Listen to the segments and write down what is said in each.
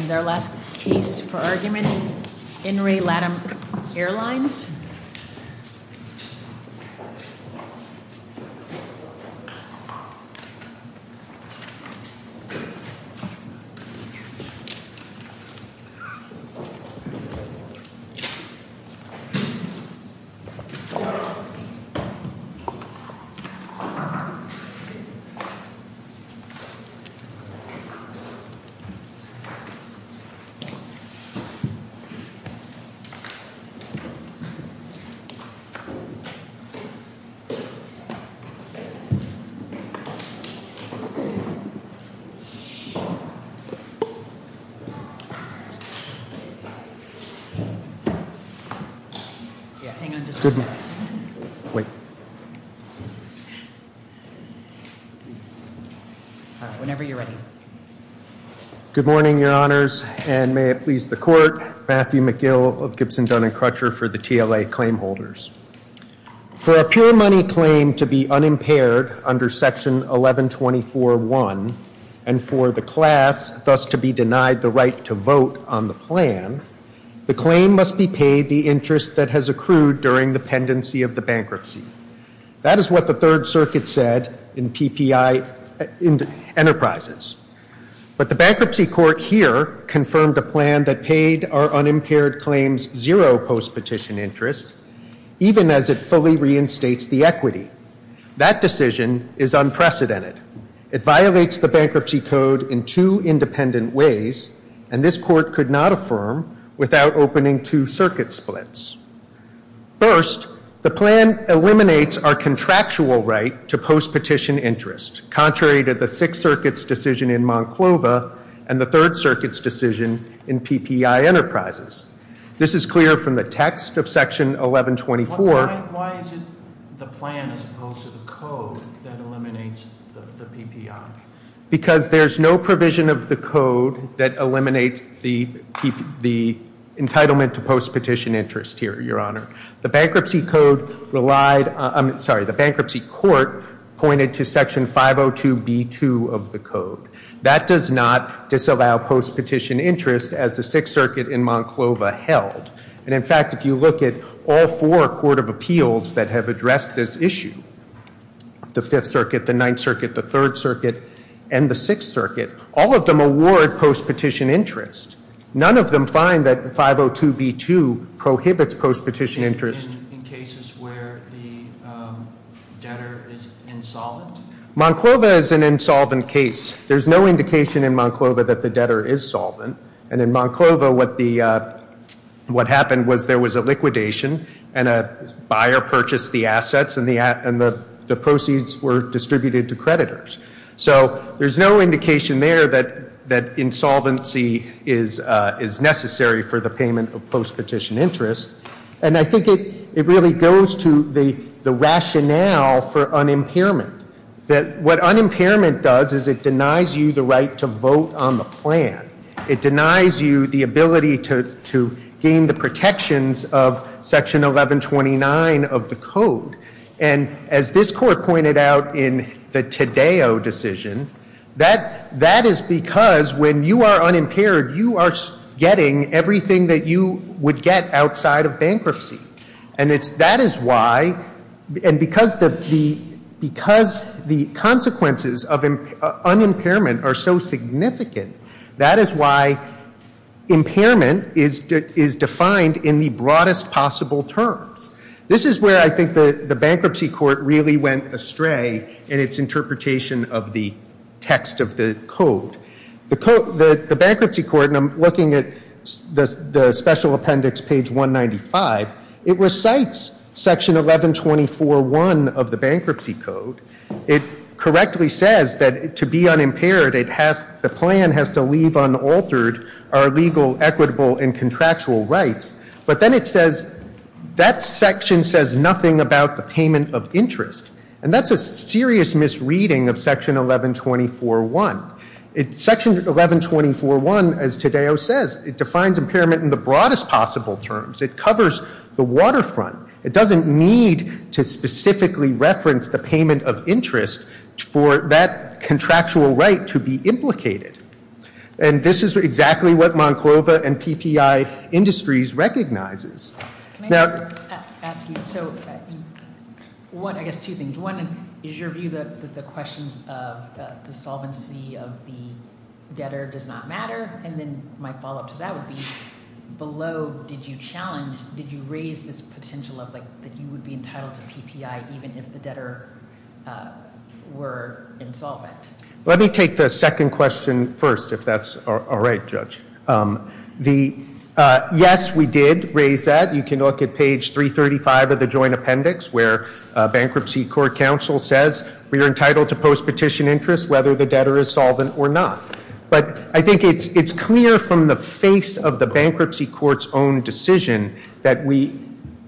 And their last case for argument, In Re. LATAM Airlines. Hold on one moment. Whenever you're ready. Good morning, your honors, and may it please the court. Matthew McGill of Gibson Dunn and Crutcher for the TLA claim holders. For a pure money claim to be unimpaired under section 1124.1, and for the class thus to be denied the right to vote on the plan, the claim must be paid the interest that has accrued during the pendency of the bankruptcy. That is what the third circuit said in PPI Enterprises. But the bankruptcy court here confirmed a plan that paid our unimpaired claims zero post-petition interest, even as it fully reinstates the equity. That decision is unprecedented. It violates the bankruptcy code in two independent ways, and this court could not affirm without opening two circuit splits. First, the plan eliminates our contractual right to post-petition interest, contrary to the sixth circuit's decision in Monclova and the third circuit's decision in PPI Enterprises. This is clear from the text of section 1124. Why is it the plan as opposed to the code that eliminates the PPI? Because there's no provision of the code that eliminates the entitlement to post-petition interest here, Your Honor. The bankruptcy court pointed to section 502B2 of the code. That does not disallow post-petition interest as the sixth circuit in Monclova held. And in fact, if you look at all four court of appeals that have addressed this issue, the fifth circuit, the ninth circuit, the third circuit, and the sixth circuit, all of them award post-petition interest. None of them find that 502B2 prohibits post-petition interest. In cases where the debtor is insolvent? Monclova is an insolvent case. There's no indication in Monclova that the debtor is solvent. And in Monclova, what happened was there was a liquidation, and a buyer purchased the assets, and the proceeds were distributed to creditors. So there's no indication there that insolvency is necessary for the payment of post-petition interest. And I think it really goes to the rationale for unimpairment. What unimpairment does is it denies you the right to vote on the plan. It denies you the ability to gain the protections of Section 1129 of the Code. And as this Court pointed out in the Tadeo decision, that is because when you are unimpaired, you are getting everything that you would get outside of bankruptcy. And that is why, and because the consequences of unimpairment are so significant, that is why impairment is defined in the broadest possible terms. This is where I think the Bankruptcy Court really went astray in its interpretation of the text of the Code. The Bankruptcy Court, and I'm looking at the Special Appendix, page 195, it recites Section 1124.1 of the Bankruptcy Code. It correctly says that to be unimpaired, the plan has to leave unaltered our legal, equitable, and contractual rights. But then it says that section says nothing about the payment of interest. And that's a serious misreading of Section 1124.1. Section 1124.1, as Tadeo says, it defines impairment in the broadest possible terms. It covers the waterfront. It doesn't need to specifically reference the payment of interest for that contractual right to be implicated. And this is exactly what Monclova and PPI Industries recognizes. Can I just ask you, so one, I guess two things. One, is your view that the questions of the solvency of the debtor does not matter? And then my follow-up to that would be, below did you challenge, did you raise this potential of like, that you would be entitled to PPI even if the debtor were insolvent? Let me take the second question first, if that's all right, Judge. Yes, we did raise that. You can look at page 335 of the Joint Appendix where Bankruptcy Court Counsel says, we are entitled to post-petition interest whether the debtor is solvent or not. But I think it's clear from the face of the Bankruptcy Court's own decision that we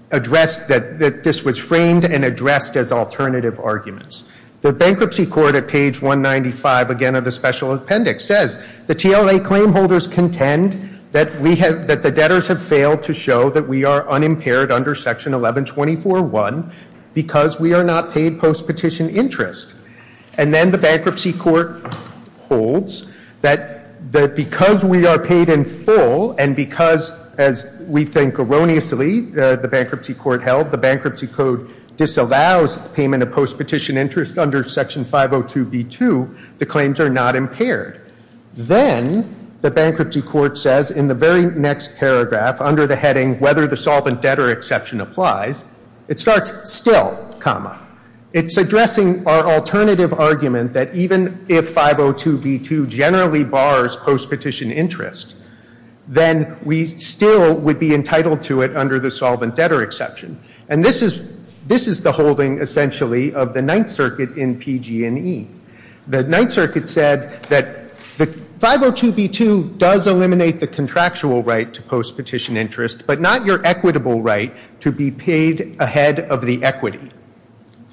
address, that this was framed and addressed as alternative arguments. The Bankruptcy Court at page 195 again of the Special Appendix says, the TLA claim holders contend that the debtors have failed to show that we are unimpaired under Section 1124.1 because we are not paid post-petition interest. And then the Bankruptcy Court holds that because we are paid in full and because, as we think erroneously, the Bankruptcy Court held, the Bankruptcy Code disallows payment of post-petition interest under Section 502b.2, the claims are not impaired. Then the Bankruptcy Court says in the very next paragraph under the heading, whether the solvent debtor exception applies, it starts, still, comma. It's addressing our alternative argument that even if 502b.2 generally bars post-petition interest, then we still would be entitled to it under the solvent debtor exception. And this is the holding essentially of the Ninth Circuit in PG&E. The Ninth Circuit said that 502b.2 does eliminate the contractual right to post-petition interest, but not your equitable right to be paid ahead of the equity.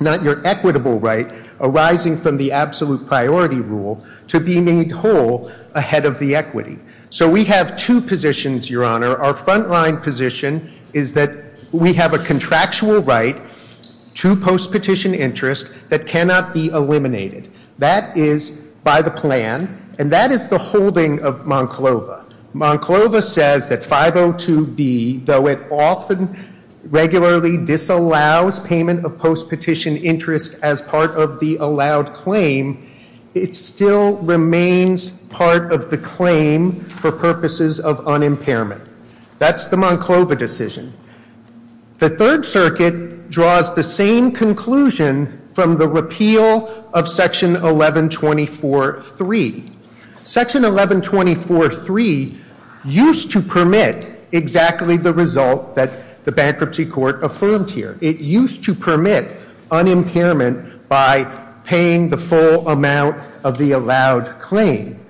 Not your equitable right arising from the absolute priority rule to be made whole ahead of the equity. So we have two positions, Your Honor. Our frontline position is that we have a contractual right to post-petition interest that cannot be eliminated. That is by the plan, and that is the holding of Monclova. Monclova says that 502b, though it often regularly disallows payment of post-petition interest as part of the allowed claim, it still remains part of the claim for purposes of unimpairment. That's the Monclova decision. The Third Circuit draws the same conclusion from the repeal of Section 1124.3. Section 1124.3 used to permit exactly the result that the Bankruptcy Court affirmed here. It used to permit unimpairment by paying the full amount of the allowed claim.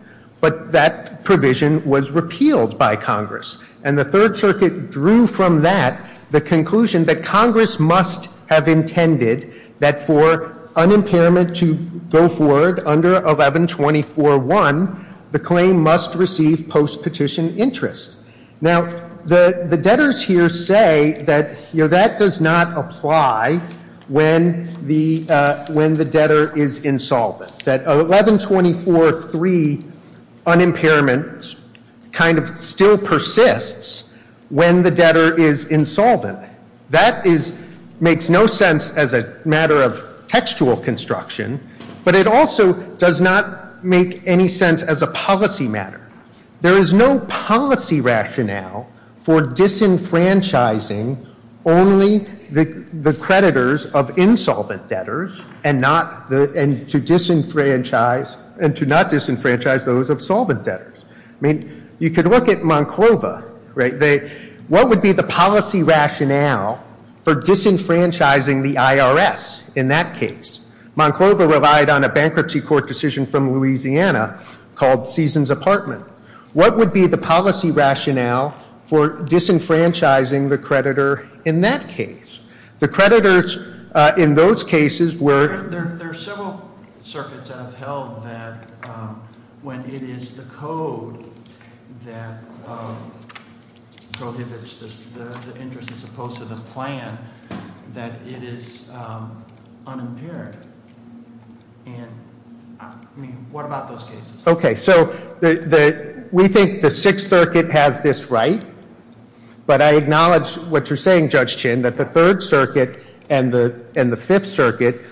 But that provision was repealed by Congress. And the Third Circuit drew from that the conclusion that Congress must have intended that for unimpairment to go forward under 1124.1, the claim must receive post-petition interest. Now, the debtors here say that that does not apply when the debtor is insolvent. That 1124.3 unimpairment kind of still persists when the debtor is insolvent. That makes no sense as a matter of textual construction, but it also does not make any sense as a policy matter. There is no policy rationale for disenfranchising only the creditors of insolvent debtors and to not disenfranchise those of solvent debtors. I mean, you could look at Monclova, right? What would be the policy rationale for disenfranchising the IRS in that case? Monclova relied on a bankruptcy court decision from Louisiana called Season's Apartment. What would be the policy rationale for disenfranchising the creditor in that case? The creditors in those cases were- That it is unimpaired, and I mean, what about those cases? Okay, so we think the Sixth Circuit has this right. But I acknowledge what you're saying, Judge Chin, that the Third Circuit and the Fifth Circuit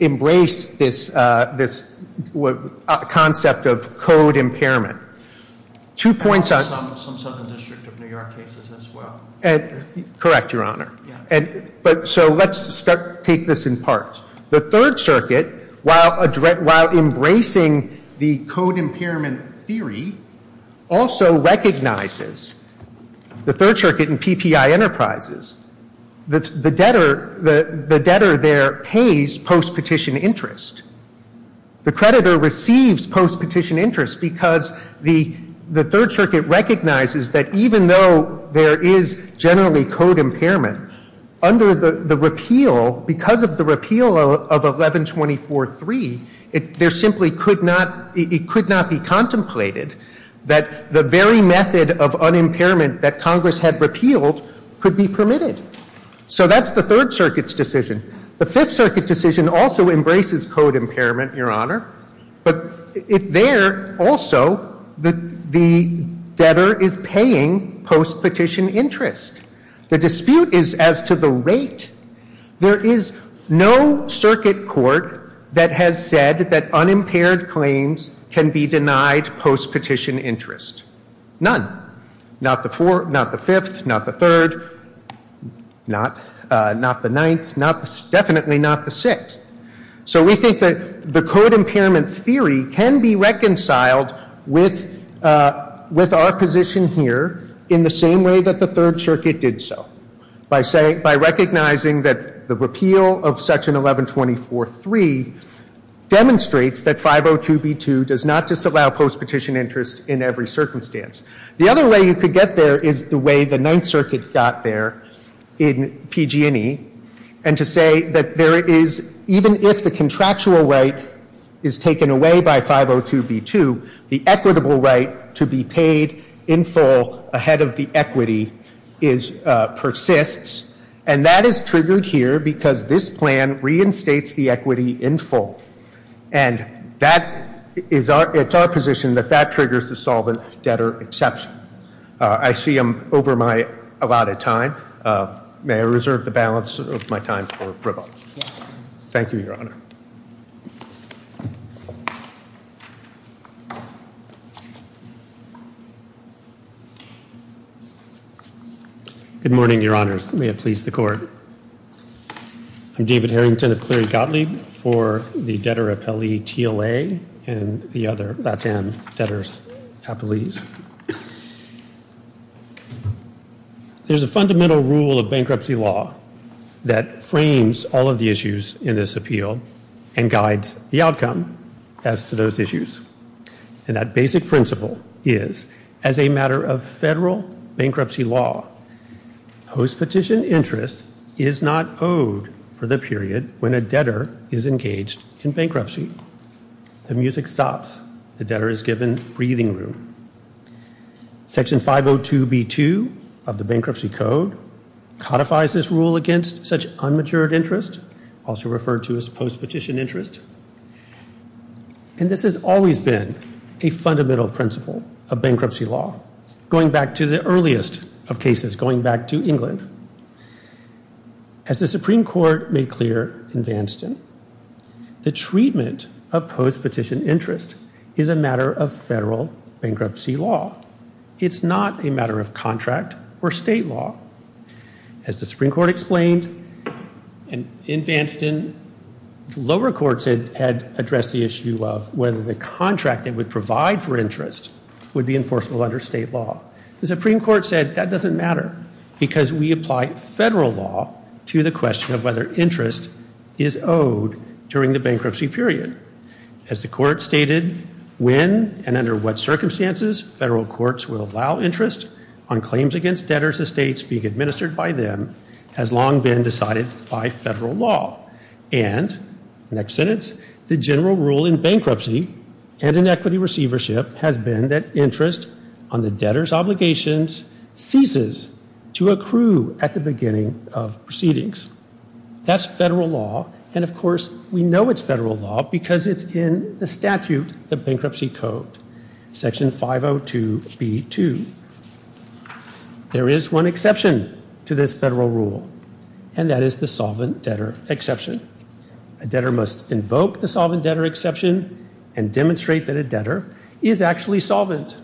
embrace this concept of code impairment. Two points- Some Southern District of New York cases as well. Correct, Your Honor. So let's take this in part. The Third Circuit, while embracing the code impairment theory, also recognizes the Third Circuit and PPI Enterprises. The debtor there pays post-petition interest. The creditor receives post-petition interest because the Third Circuit recognizes that even though there is generally code impairment, under the repeal, because of the repeal of 1124.3, there simply could not, it could not be contemplated that the very method of unimpairment that Congress had repealed could be permitted. So that's the Third Circuit's decision. The Fifth Circuit decision also embraces code impairment, Your Honor. But there also the debtor is paying post-petition interest. The dispute is as to the rate. There is no circuit court that has said that unimpaired claims can be denied post-petition interest. None. Not the Fourth, not the Fifth, not the Third, not the Ninth, definitely not the Sixth. So we think that the code impairment theory can be reconciled with our position here in the same way that the Third Circuit did so, by recognizing that the repeal of Section 1124.3 demonstrates that 502b2 does not disallow post-petition interest in every circumstance. The other way you could get there is the way the Ninth Circuit got there in PG&E, and to say that even if the contractual right is taken away by 502b2, the equitable right to be paid in full ahead of the equity persists. And that is triggered here because this plan reinstates the equity in full. And it's our position that that triggers the solvent debtor exception. I see I'm over my allotted time. May I reserve the balance of my time for rebuttal? Yes. Thank you, Your Honor. Good morning, Your Honors. May it please the Court. I'm David Harrington of Cleary Gottlieb for the Debtor Appellee TLA and the other LATAM debtors. Please. There's a fundamental rule of bankruptcy law that frames all of the issues in this appeal and guides the outcome as to those issues. And that basic principle is, as a matter of federal bankruptcy law, post-petition interest is not owed for the period when a debtor is engaged in bankruptcy. The music stops. The debtor is given breathing room. Section 502b2 of the Bankruptcy Code codifies this rule against such unmatured interest, also referred to as post-petition interest. And this has always been a fundamental principle of bankruptcy law, going back to the earliest of cases, going back to England. As the Supreme Court made clear in Vanston, the treatment of post-petition interest is a matter of federal bankruptcy law. It's not a matter of contract or state law. As the Supreme Court explained in Vanston, lower courts had addressed the issue of whether the contract they would provide for interest would be enforceable under state law. The Supreme Court said that doesn't matter because we apply federal law to the question of whether interest is owed during the bankruptcy period. As the Court stated, when and under what circumstances federal courts will allow interest on claims against debtors' estates being administered by them has long been decided by federal law. And, next sentence, the general rule in bankruptcy and in equity receivership has been that interest on the debtor's obligations ceases to accrue at the beginning of proceedings. That's federal law, and, of course, we know it's federal law because it's in the statute, the Bankruptcy Code, Section 502B2. There is one exception to this federal rule, and that is the solvent debtor exception. A debtor must invoke the solvent debtor exception and demonstrate that a debtor is actually solvent.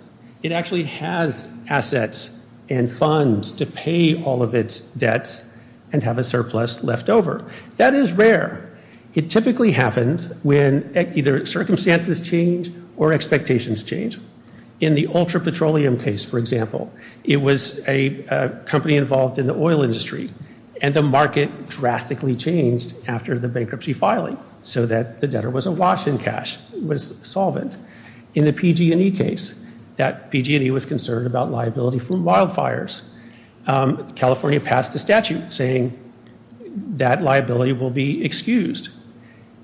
It actually has assets and funds to pay all of its debts and have a surplus left over. That is rare. It typically happens when either circumstances change or expectations change. In the Ultra Petroleum case, for example, it was a company involved in the oil industry, and the market drastically changed after the bankruptcy filing so that the debtor was awash in cash, was solvent. In the PG&E case, that PG&E was concerned about liability for wildfires. California passed a statute saying that liability will be excused,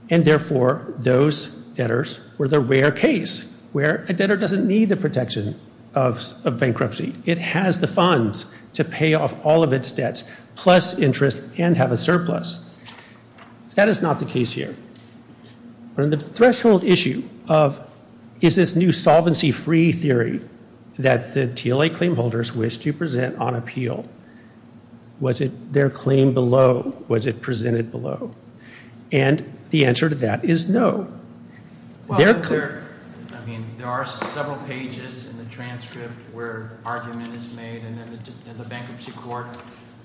and, therefore, those debtors were the rare case where a debtor doesn't need the protection of bankruptcy. It has the funds to pay off all of its debts plus interest and have a surplus. That is not the case here. On the threshold issue of is this new solvency-free theory that the TLA claimholders wish to present on appeal, was it their claim below? Was it presented below? And the answer to that is no. There are several pages in the transcript where argument is made, and then the bankruptcy court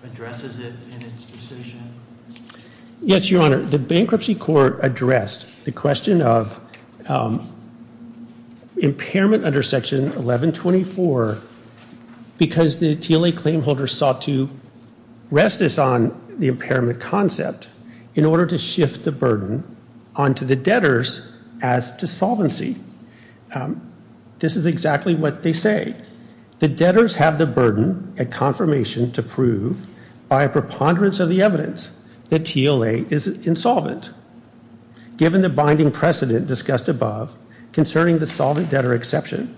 addresses it in its decision. Yes, Your Honor. The bankruptcy court addressed the question of impairment under Section 1124 because the TLA claimholders sought to rest this on the impairment concept in order to shift the burden onto the debtors as to solvency. This is exactly what they say. The debtors have the burden and confirmation to prove by a preponderance of the evidence that TLA is insolvent. Given the binding precedent discussed above concerning the solvent debtor exception,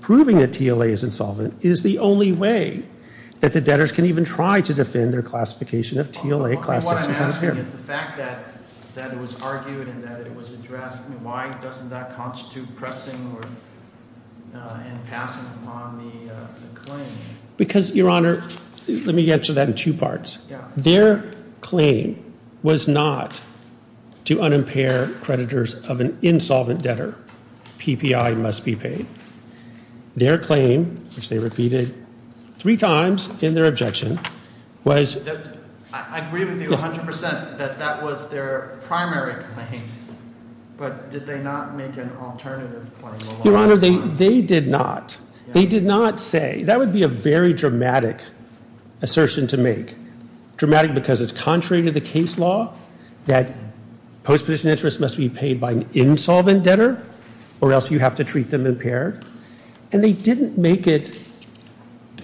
proving that TLA is insolvent is the only way that the debtors can even try to defend their classification of TLA. What I'm asking is the fact that it was argued and that it was addressed, why doesn't that constitute pressing and passing on the claim? Because, Your Honor, let me answer that in two parts. Their claim was not to unimpair creditors of an insolvent debtor. PPI must be paid. Their claim, which they repeated three times in their objection, was... I agree with you 100% that that was their primary claim, but did they not make an alternative claim? Your Honor, they did not. They did not say... that would be a very dramatic assertion to make. Dramatic because it's contrary to the case law that post-position interest must be paid by an insolvent debtor or else you have to treat them impaired. And they didn't make it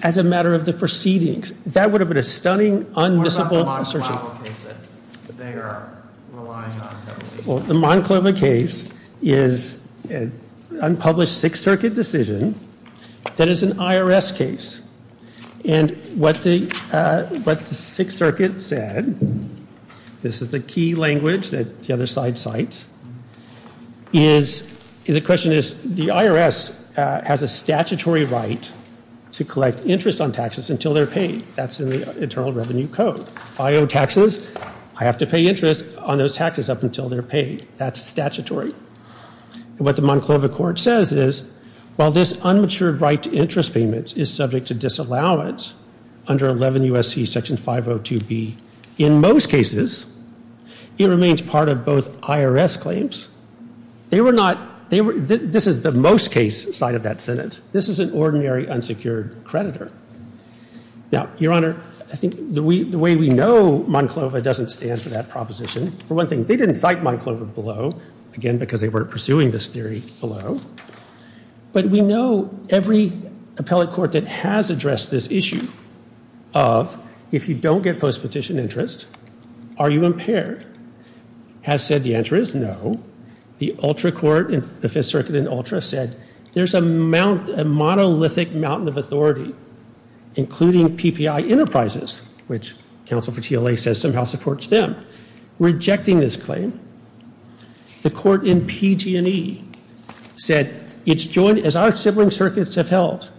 as a matter of the proceedings. That would have been a stunning, unmissable assertion. What about the Monclova case that they are relying on? Well, the Monclova case is an unpublished Sixth Circuit decision that is an IRS case. And what the Sixth Circuit said, this is the key language that the other side cites, is the question is the IRS has a statutory right to collect interest on taxes until they're paid. That's in the Internal Revenue Code. If I owe taxes, I have to pay interest on those taxes up until they're paid. That's statutory. And what the Monclova court says is while this unmatured right to interest payments is subject to disallowance under 11 U.S.C. Section 502B, in most cases, it remains part of both IRS claims. They were not... this is the most case side of that sentence. This is an ordinary unsecured creditor. Now, Your Honor, I think the way we know Monclova doesn't stand for that proposition. For one thing, they didn't cite Monclova below, again, because they weren't pursuing this theory below. But we know every appellate court that has addressed this issue of if you don't get post-petition interest, are you impaired, has said the answer is no. The ULTRA court, the Fifth Circuit in ULTRA, said there's a monolithic mountain of authority, including PPI Enterprises, which counsel for TLA says somehow supports them, rejecting this claim. The court in PG&E said it's joined, as our sibling circuits have held,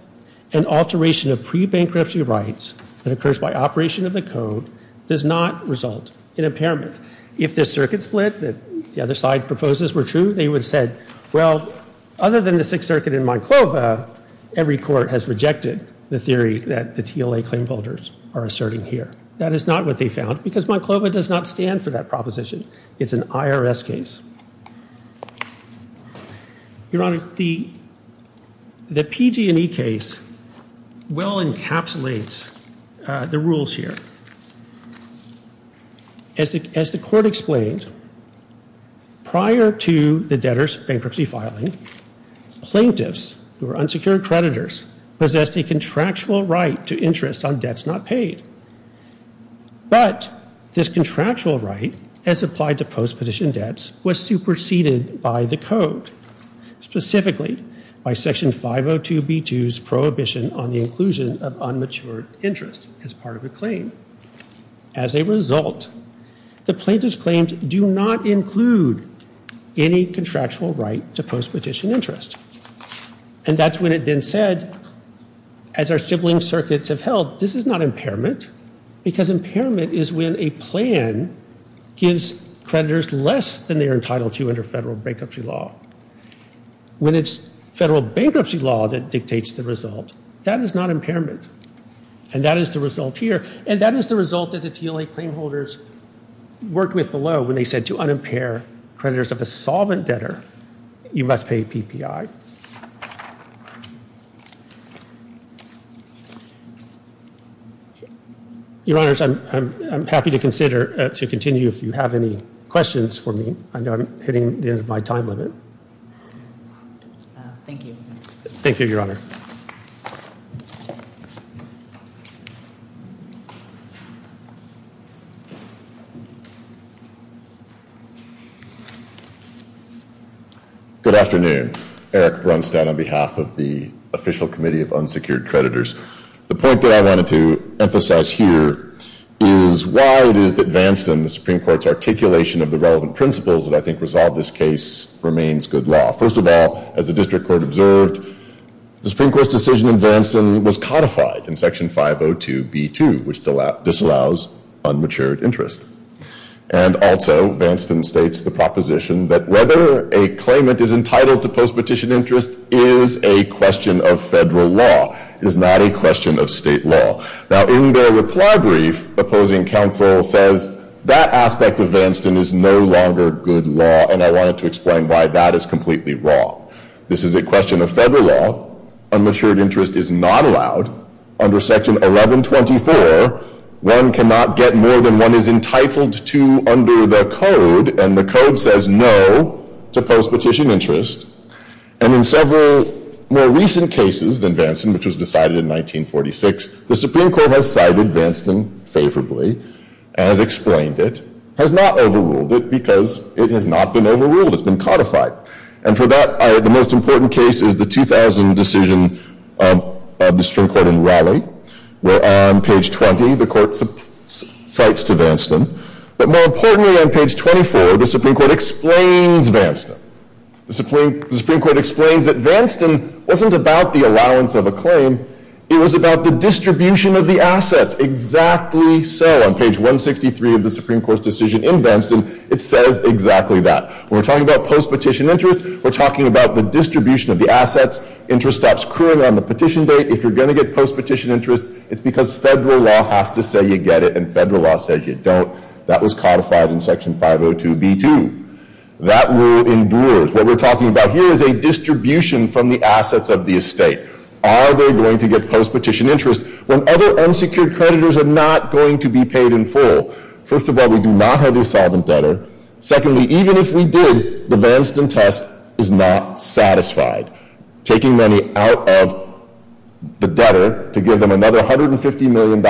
an alteration of pre-bankruptcy rights that occurs by operation of the code does not result in impairment. If this circuit split that the other side proposes were true, they would have said, well, other than the Sixth Circuit in Monclova, every court has rejected the theory that the TLA claimholders are asserting here. That is not what they found, because Monclova does not stand for that proposition. It's an IRS case. Your Honor, the PG&E case well encapsulates the rules here. As the court explained, prior to the debtor's bankruptcy filing, plaintiffs who are unsecured creditors possessed a contractual right to interest on debts not paid. But this contractual right, as applied to post-petition debts, was superseded by the code, specifically by Section 502B2's prohibition on the inclusion of unmatured interest as part of a claim. As a result, the plaintiff's claims do not include any contractual right to post-petition interest. And that's when it then said, as our sibling circuits have held, this is not impairment, because impairment is when a plan gives creditors less than they are entitled to under federal bankruptcy law. When it's federal bankruptcy law that dictates the result, that is not impairment. And that is the result here. And that is the result that the TLA claimholders worked with below when they said to unimpair creditors of a solvent debtor, you must pay PPI. Your Honors, I'm happy to continue if you have any questions for me. I know I'm hitting the end of my time limit. Thank you. Thank you, Your Honor. Good afternoon. Eric Brunstad on behalf of the Official Committee of Unsecured Creditors. The point that I wanted to emphasize here is why it is that Vance and the Supreme Court's articulation of the relevant principles that I think resolve this case remains good law. First of all, as the District Court observed, the Supreme Court's decision in Vanston was codified in Section 502B2, which disallows unmatured interest. And also, Vanston states the proposition that whether a claimant is entitled to post-petition interest is a question of federal law. It is not a question of state law. Now, in their reply brief, opposing counsel says that aspect of Vanston is no longer good law, and I wanted to explain why that is completely wrong. This is a question of federal law. Unmatured interest is not allowed under Section 1124. One cannot get more than one is entitled to under the code, and the code says no to post-petition interest. And in several more recent cases than Vanston, which was decided in 1946, the Supreme Court has cited Vanston favorably, has explained it, has not overruled it because it has not been overruled. It's been codified. And for that, the most important case is the 2000 decision of the Supreme Court in Raleigh, where on page 20, the Court cites to Vanston. But more importantly, on page 24, the Supreme Court explains Vanston. The Supreme Court explains that Vanston wasn't about the allowance of a claim. It was about the distribution of the assets. Exactly so. On page 163 of the Supreme Court's decision in Vanston, it says exactly that. When we're talking about post-petition interest, we're talking about the distribution of the assets. Interest stops currently on the petition date. If you're going to get post-petition interest, it's because federal law has to say you get it, and federal law says you don't. That was codified in Section 502b2. That rule endures. What we're talking about here is a distribution from the assets of the estate. Are they going to get post-petition interest when other unsecured creditors are not going to be paid in full? First of all, we do not have a solvent debtor. Secondly, even if we did, the Vanston test is not satisfied. Taking money out of the debtor to give them another $150 million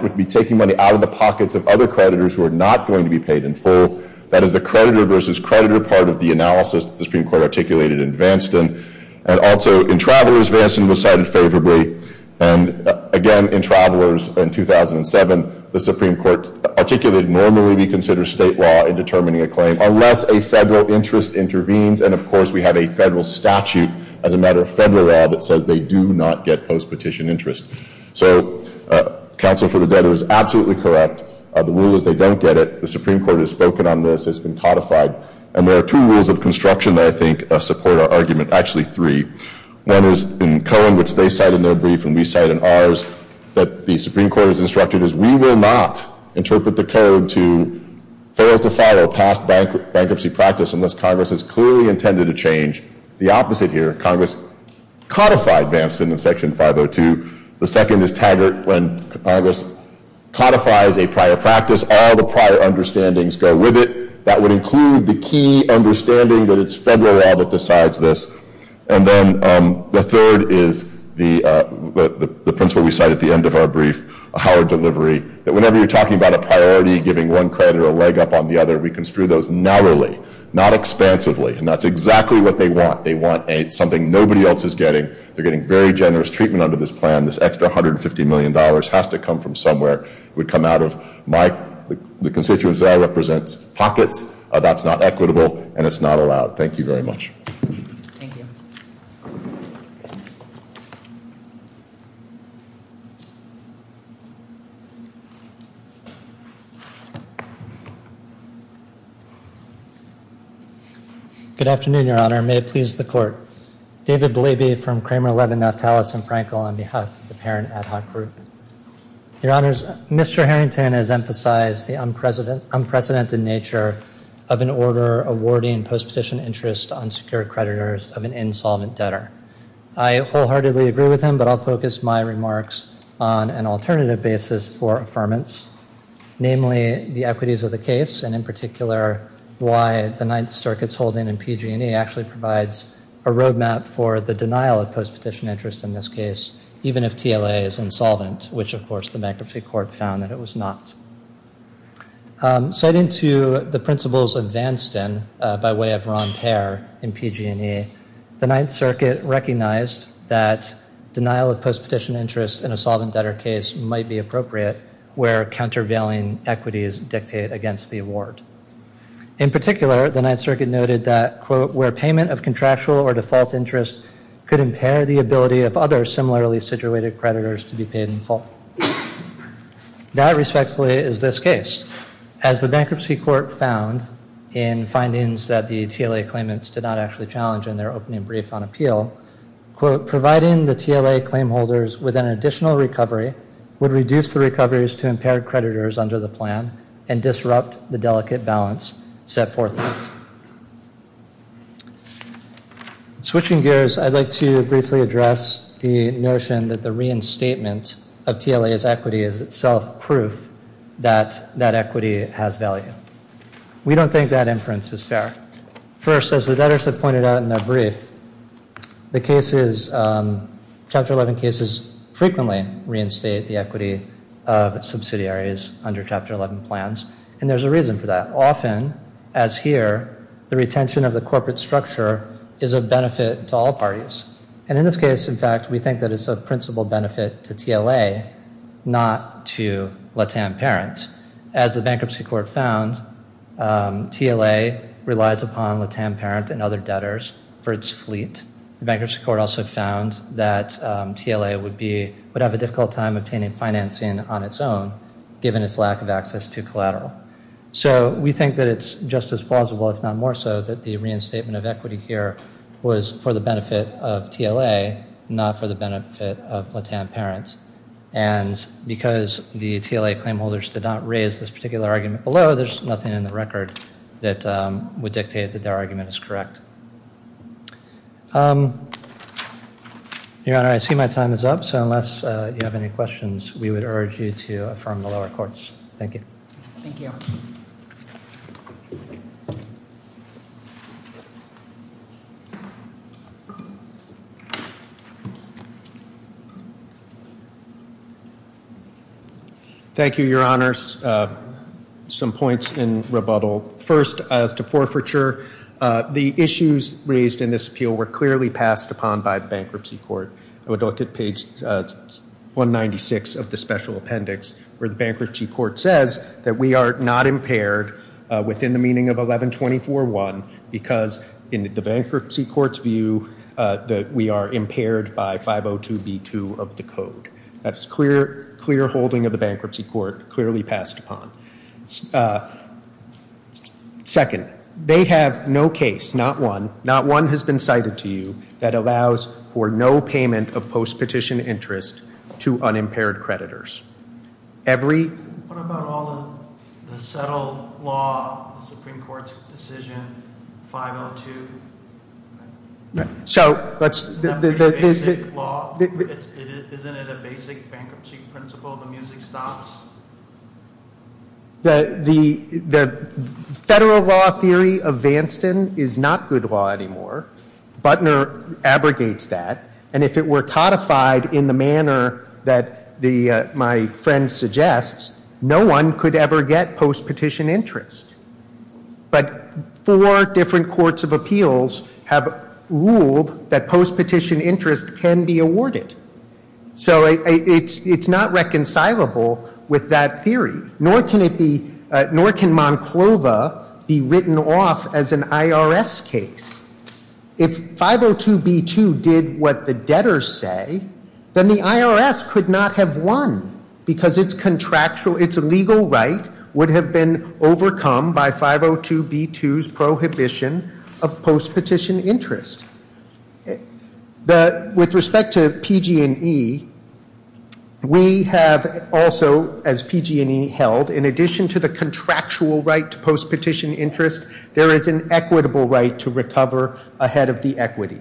would be taking money out of the pockets of other creditors who are not going to be paid in full. That is the creditor versus creditor part of the analysis the Supreme Court articulated in Vanston. And also, in Travelers, Vanston was cited favorably. And again, in Travelers in 2007, the Supreme Court articulated normally we consider state law in determining a claim unless a federal interest intervenes. And, of course, we have a federal statute as a matter of federal law that says they do not get post-petition interest. So Counsel for the Debtor is absolutely correct. The rule is they don't get it. The Supreme Court has spoken on this. It's been codified. And there are two rules of construction that I think support our argument, actually three. One is in Cohen, which they cite in their brief and we cite in ours, that the Supreme Court has instructed is we will not interpret the code to fail to follow past bankruptcy practice unless Congress has clearly intended a change. The opposite here, Congress codified Vanston in Section 502. The second is Taggart. When Congress codifies a prior practice, all the prior understandings go with it. That would include the key understanding that it's federal law that decides this. And then the third is the principle we cite at the end of our brief, Howard Delivery, that whenever you're talking about a priority, giving one credit or a leg up on the other, we construe those narrowly, not expansively. And that's exactly what they want. They want something nobody else is getting. They're getting very generous treatment under this plan. This extra $150 million has to come from somewhere. It would come out of the constituents that I represent's pockets. That's not equitable and it's not allowed. Thank you very much. Thank you. Good afternoon, Your Honor. May it please the Court. of an insolvent debtor. I wholeheartedly agree with him, but I'll focus my remarks on an alternative basis for affirmance, namely the equities of the case, and in particular why the Ninth Circuit's holding in PG&E actually provides a roadmap for the denial of post-petition interest in this case, even if TLA is insolvent, which, of course, the bankruptcy court found that it was not. Citing to the principles of Vanston by way of Ron Payer in PG&E, the Ninth Circuit recognized that denial of post-petition interest in an insolvent debtor case might be appropriate where countervailing equities dictate against the award. In particular, the Ninth Circuit noted that, quote, where payment of contractual or default interest could impair the ability of other similarly situated creditors to be paid in full. That, respectively, is this case. As the bankruptcy court found in findings that the TLA claimants did not actually challenge in their opening brief on appeal, quote, providing the TLA claimholders with an additional recovery would reduce the recoveries to impaired creditors under the plan and disrupt the delicate balance set forth in it. Switching gears, I'd like to briefly address the notion that the reinstatement of TLA's equity is itself proof that that equity has value. We don't think that inference is fair. First, as the debtors have pointed out in their brief, the cases, Chapter 11 cases, frequently reinstate the equity of subsidiaries under Chapter 11 plans, and there's a reason for that. Often, as here, the retention of the corporate structure is a benefit to all parties, and in this case, in fact, we think that it's a principal benefit to TLA, not to LATAM parents. As the bankruptcy court found, TLA relies upon LATAM parent and other debtors for its fleet. The bankruptcy court also found that TLA would have a difficult time obtaining financing on its own, given its lack of access to collateral. So we think that it's just as plausible, if not more so, that the reinstatement of equity here was for the benefit of TLA, not for the benefit of LATAM parents, and because the TLA claimholders did not raise this particular argument below, there's nothing in the record that would dictate that their argument is correct. Your Honor, I see my time is up, so unless you have any questions, we would urge you to affirm the lower courts. Thank you. Thank you. Thank you, Your Honors. Some points in rebuttal. First, as to forfeiture, the issues raised in this appeal were clearly passed upon by the bankruptcy court. I would look at page 196 of the special appendix, where the bankruptcy court says that we are not impaired within the meaning of 1124.1, because in the bankruptcy court's view, we are impaired by 502B2 of the code. That's clear holding of the bankruptcy court, clearly passed upon. Second, they have no case, not one. None has been cited to you that allows for no payment of post-petition interest to unimpaired creditors. What about all the settled law, the Supreme Court's decision, 502? Isn't that pretty basic law? Isn't it a basic bankruptcy principle, the music stops? The federal law theory of Vanston is not good law anymore. Butner abrogates that. And if it were codified in the manner that my friend suggests, no one could ever get post-petition interest. But four different courts of appeals have ruled that post-petition interest can be awarded. So it's not reconcilable with that theory, nor can it be, nor can Monclova be written off as an IRS case. If 502B2 did what the debtors say, then the IRS could not have won, because its contractual, its legal right would have been overcome by 502B2's prohibition of post-petition interest. With respect to PG&E, we have also, as PG&E held, in addition to the contractual right to post-petition interest, there is an equitable right to recover ahead of the equity.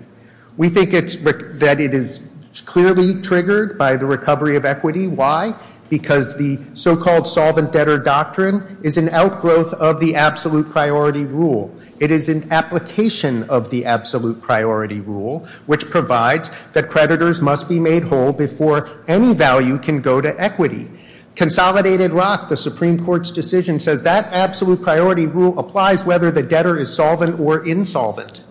We think that it is clearly triggered by the recovery of equity. Why? Because the so-called solvent debtor doctrine is an outgrowth of the absolute priority rule. It is an application of the absolute priority rule, which provides that creditors must be made whole before any value can go to equity. Consolidated Rock, the Supreme Court's decision, says that absolute priority rule applies whether the debtor is solvent or insolvent.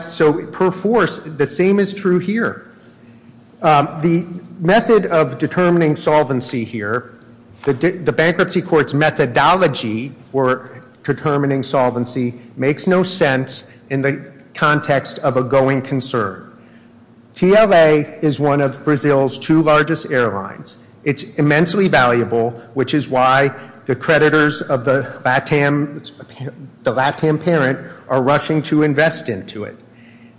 So per force, the same is true here. The method of determining solvency here, the bankruptcy court's methodology for determining solvency, makes no sense in the context of a going concern. TLA is one of Brazil's two largest airlines. It's immensely valuable, which is why the creditors of the LATAM parent are rushing to invest into it.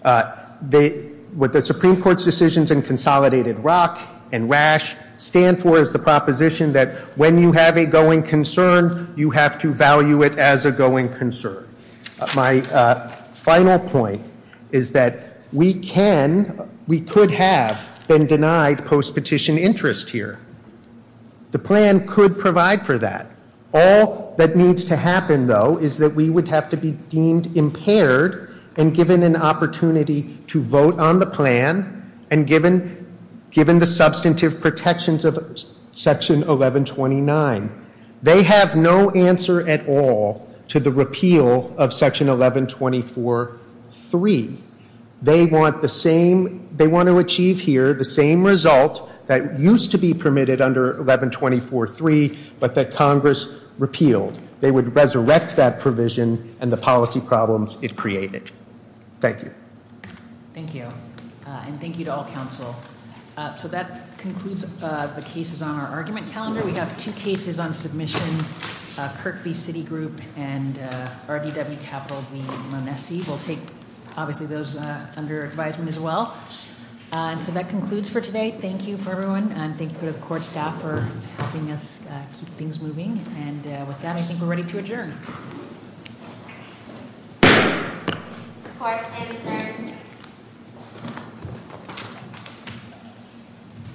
What the Supreme Court's decisions in Consolidated Rock and Rash stand for is the proposition that when you have a going concern, you have to value it as a going concern. My final point is that we could have been denied post-petition interest here. The plan could provide for that. All that needs to happen, though, is that we would have to be deemed impaired and given an opportunity to vote on the plan and given the substantive protections of Section 1129. They have no answer at all to the repeal of Section 1124.3. They want to achieve here the same result that used to be permitted under 1124.3, but that Congress repealed. They would resurrect that provision and the policy problems it created. Thank you. Thank you. And thank you to all counsel. So that concludes the cases on our argument calendar. We have two cases on submission, Kirk v. Citigroup and RDW Capital v. Manessi. We'll take, obviously, those under advisement as well. So that concludes for today. Thank you for everyone, and thank you to the court staff for helping us keep things moving. And with that, I think we're ready to adjourn.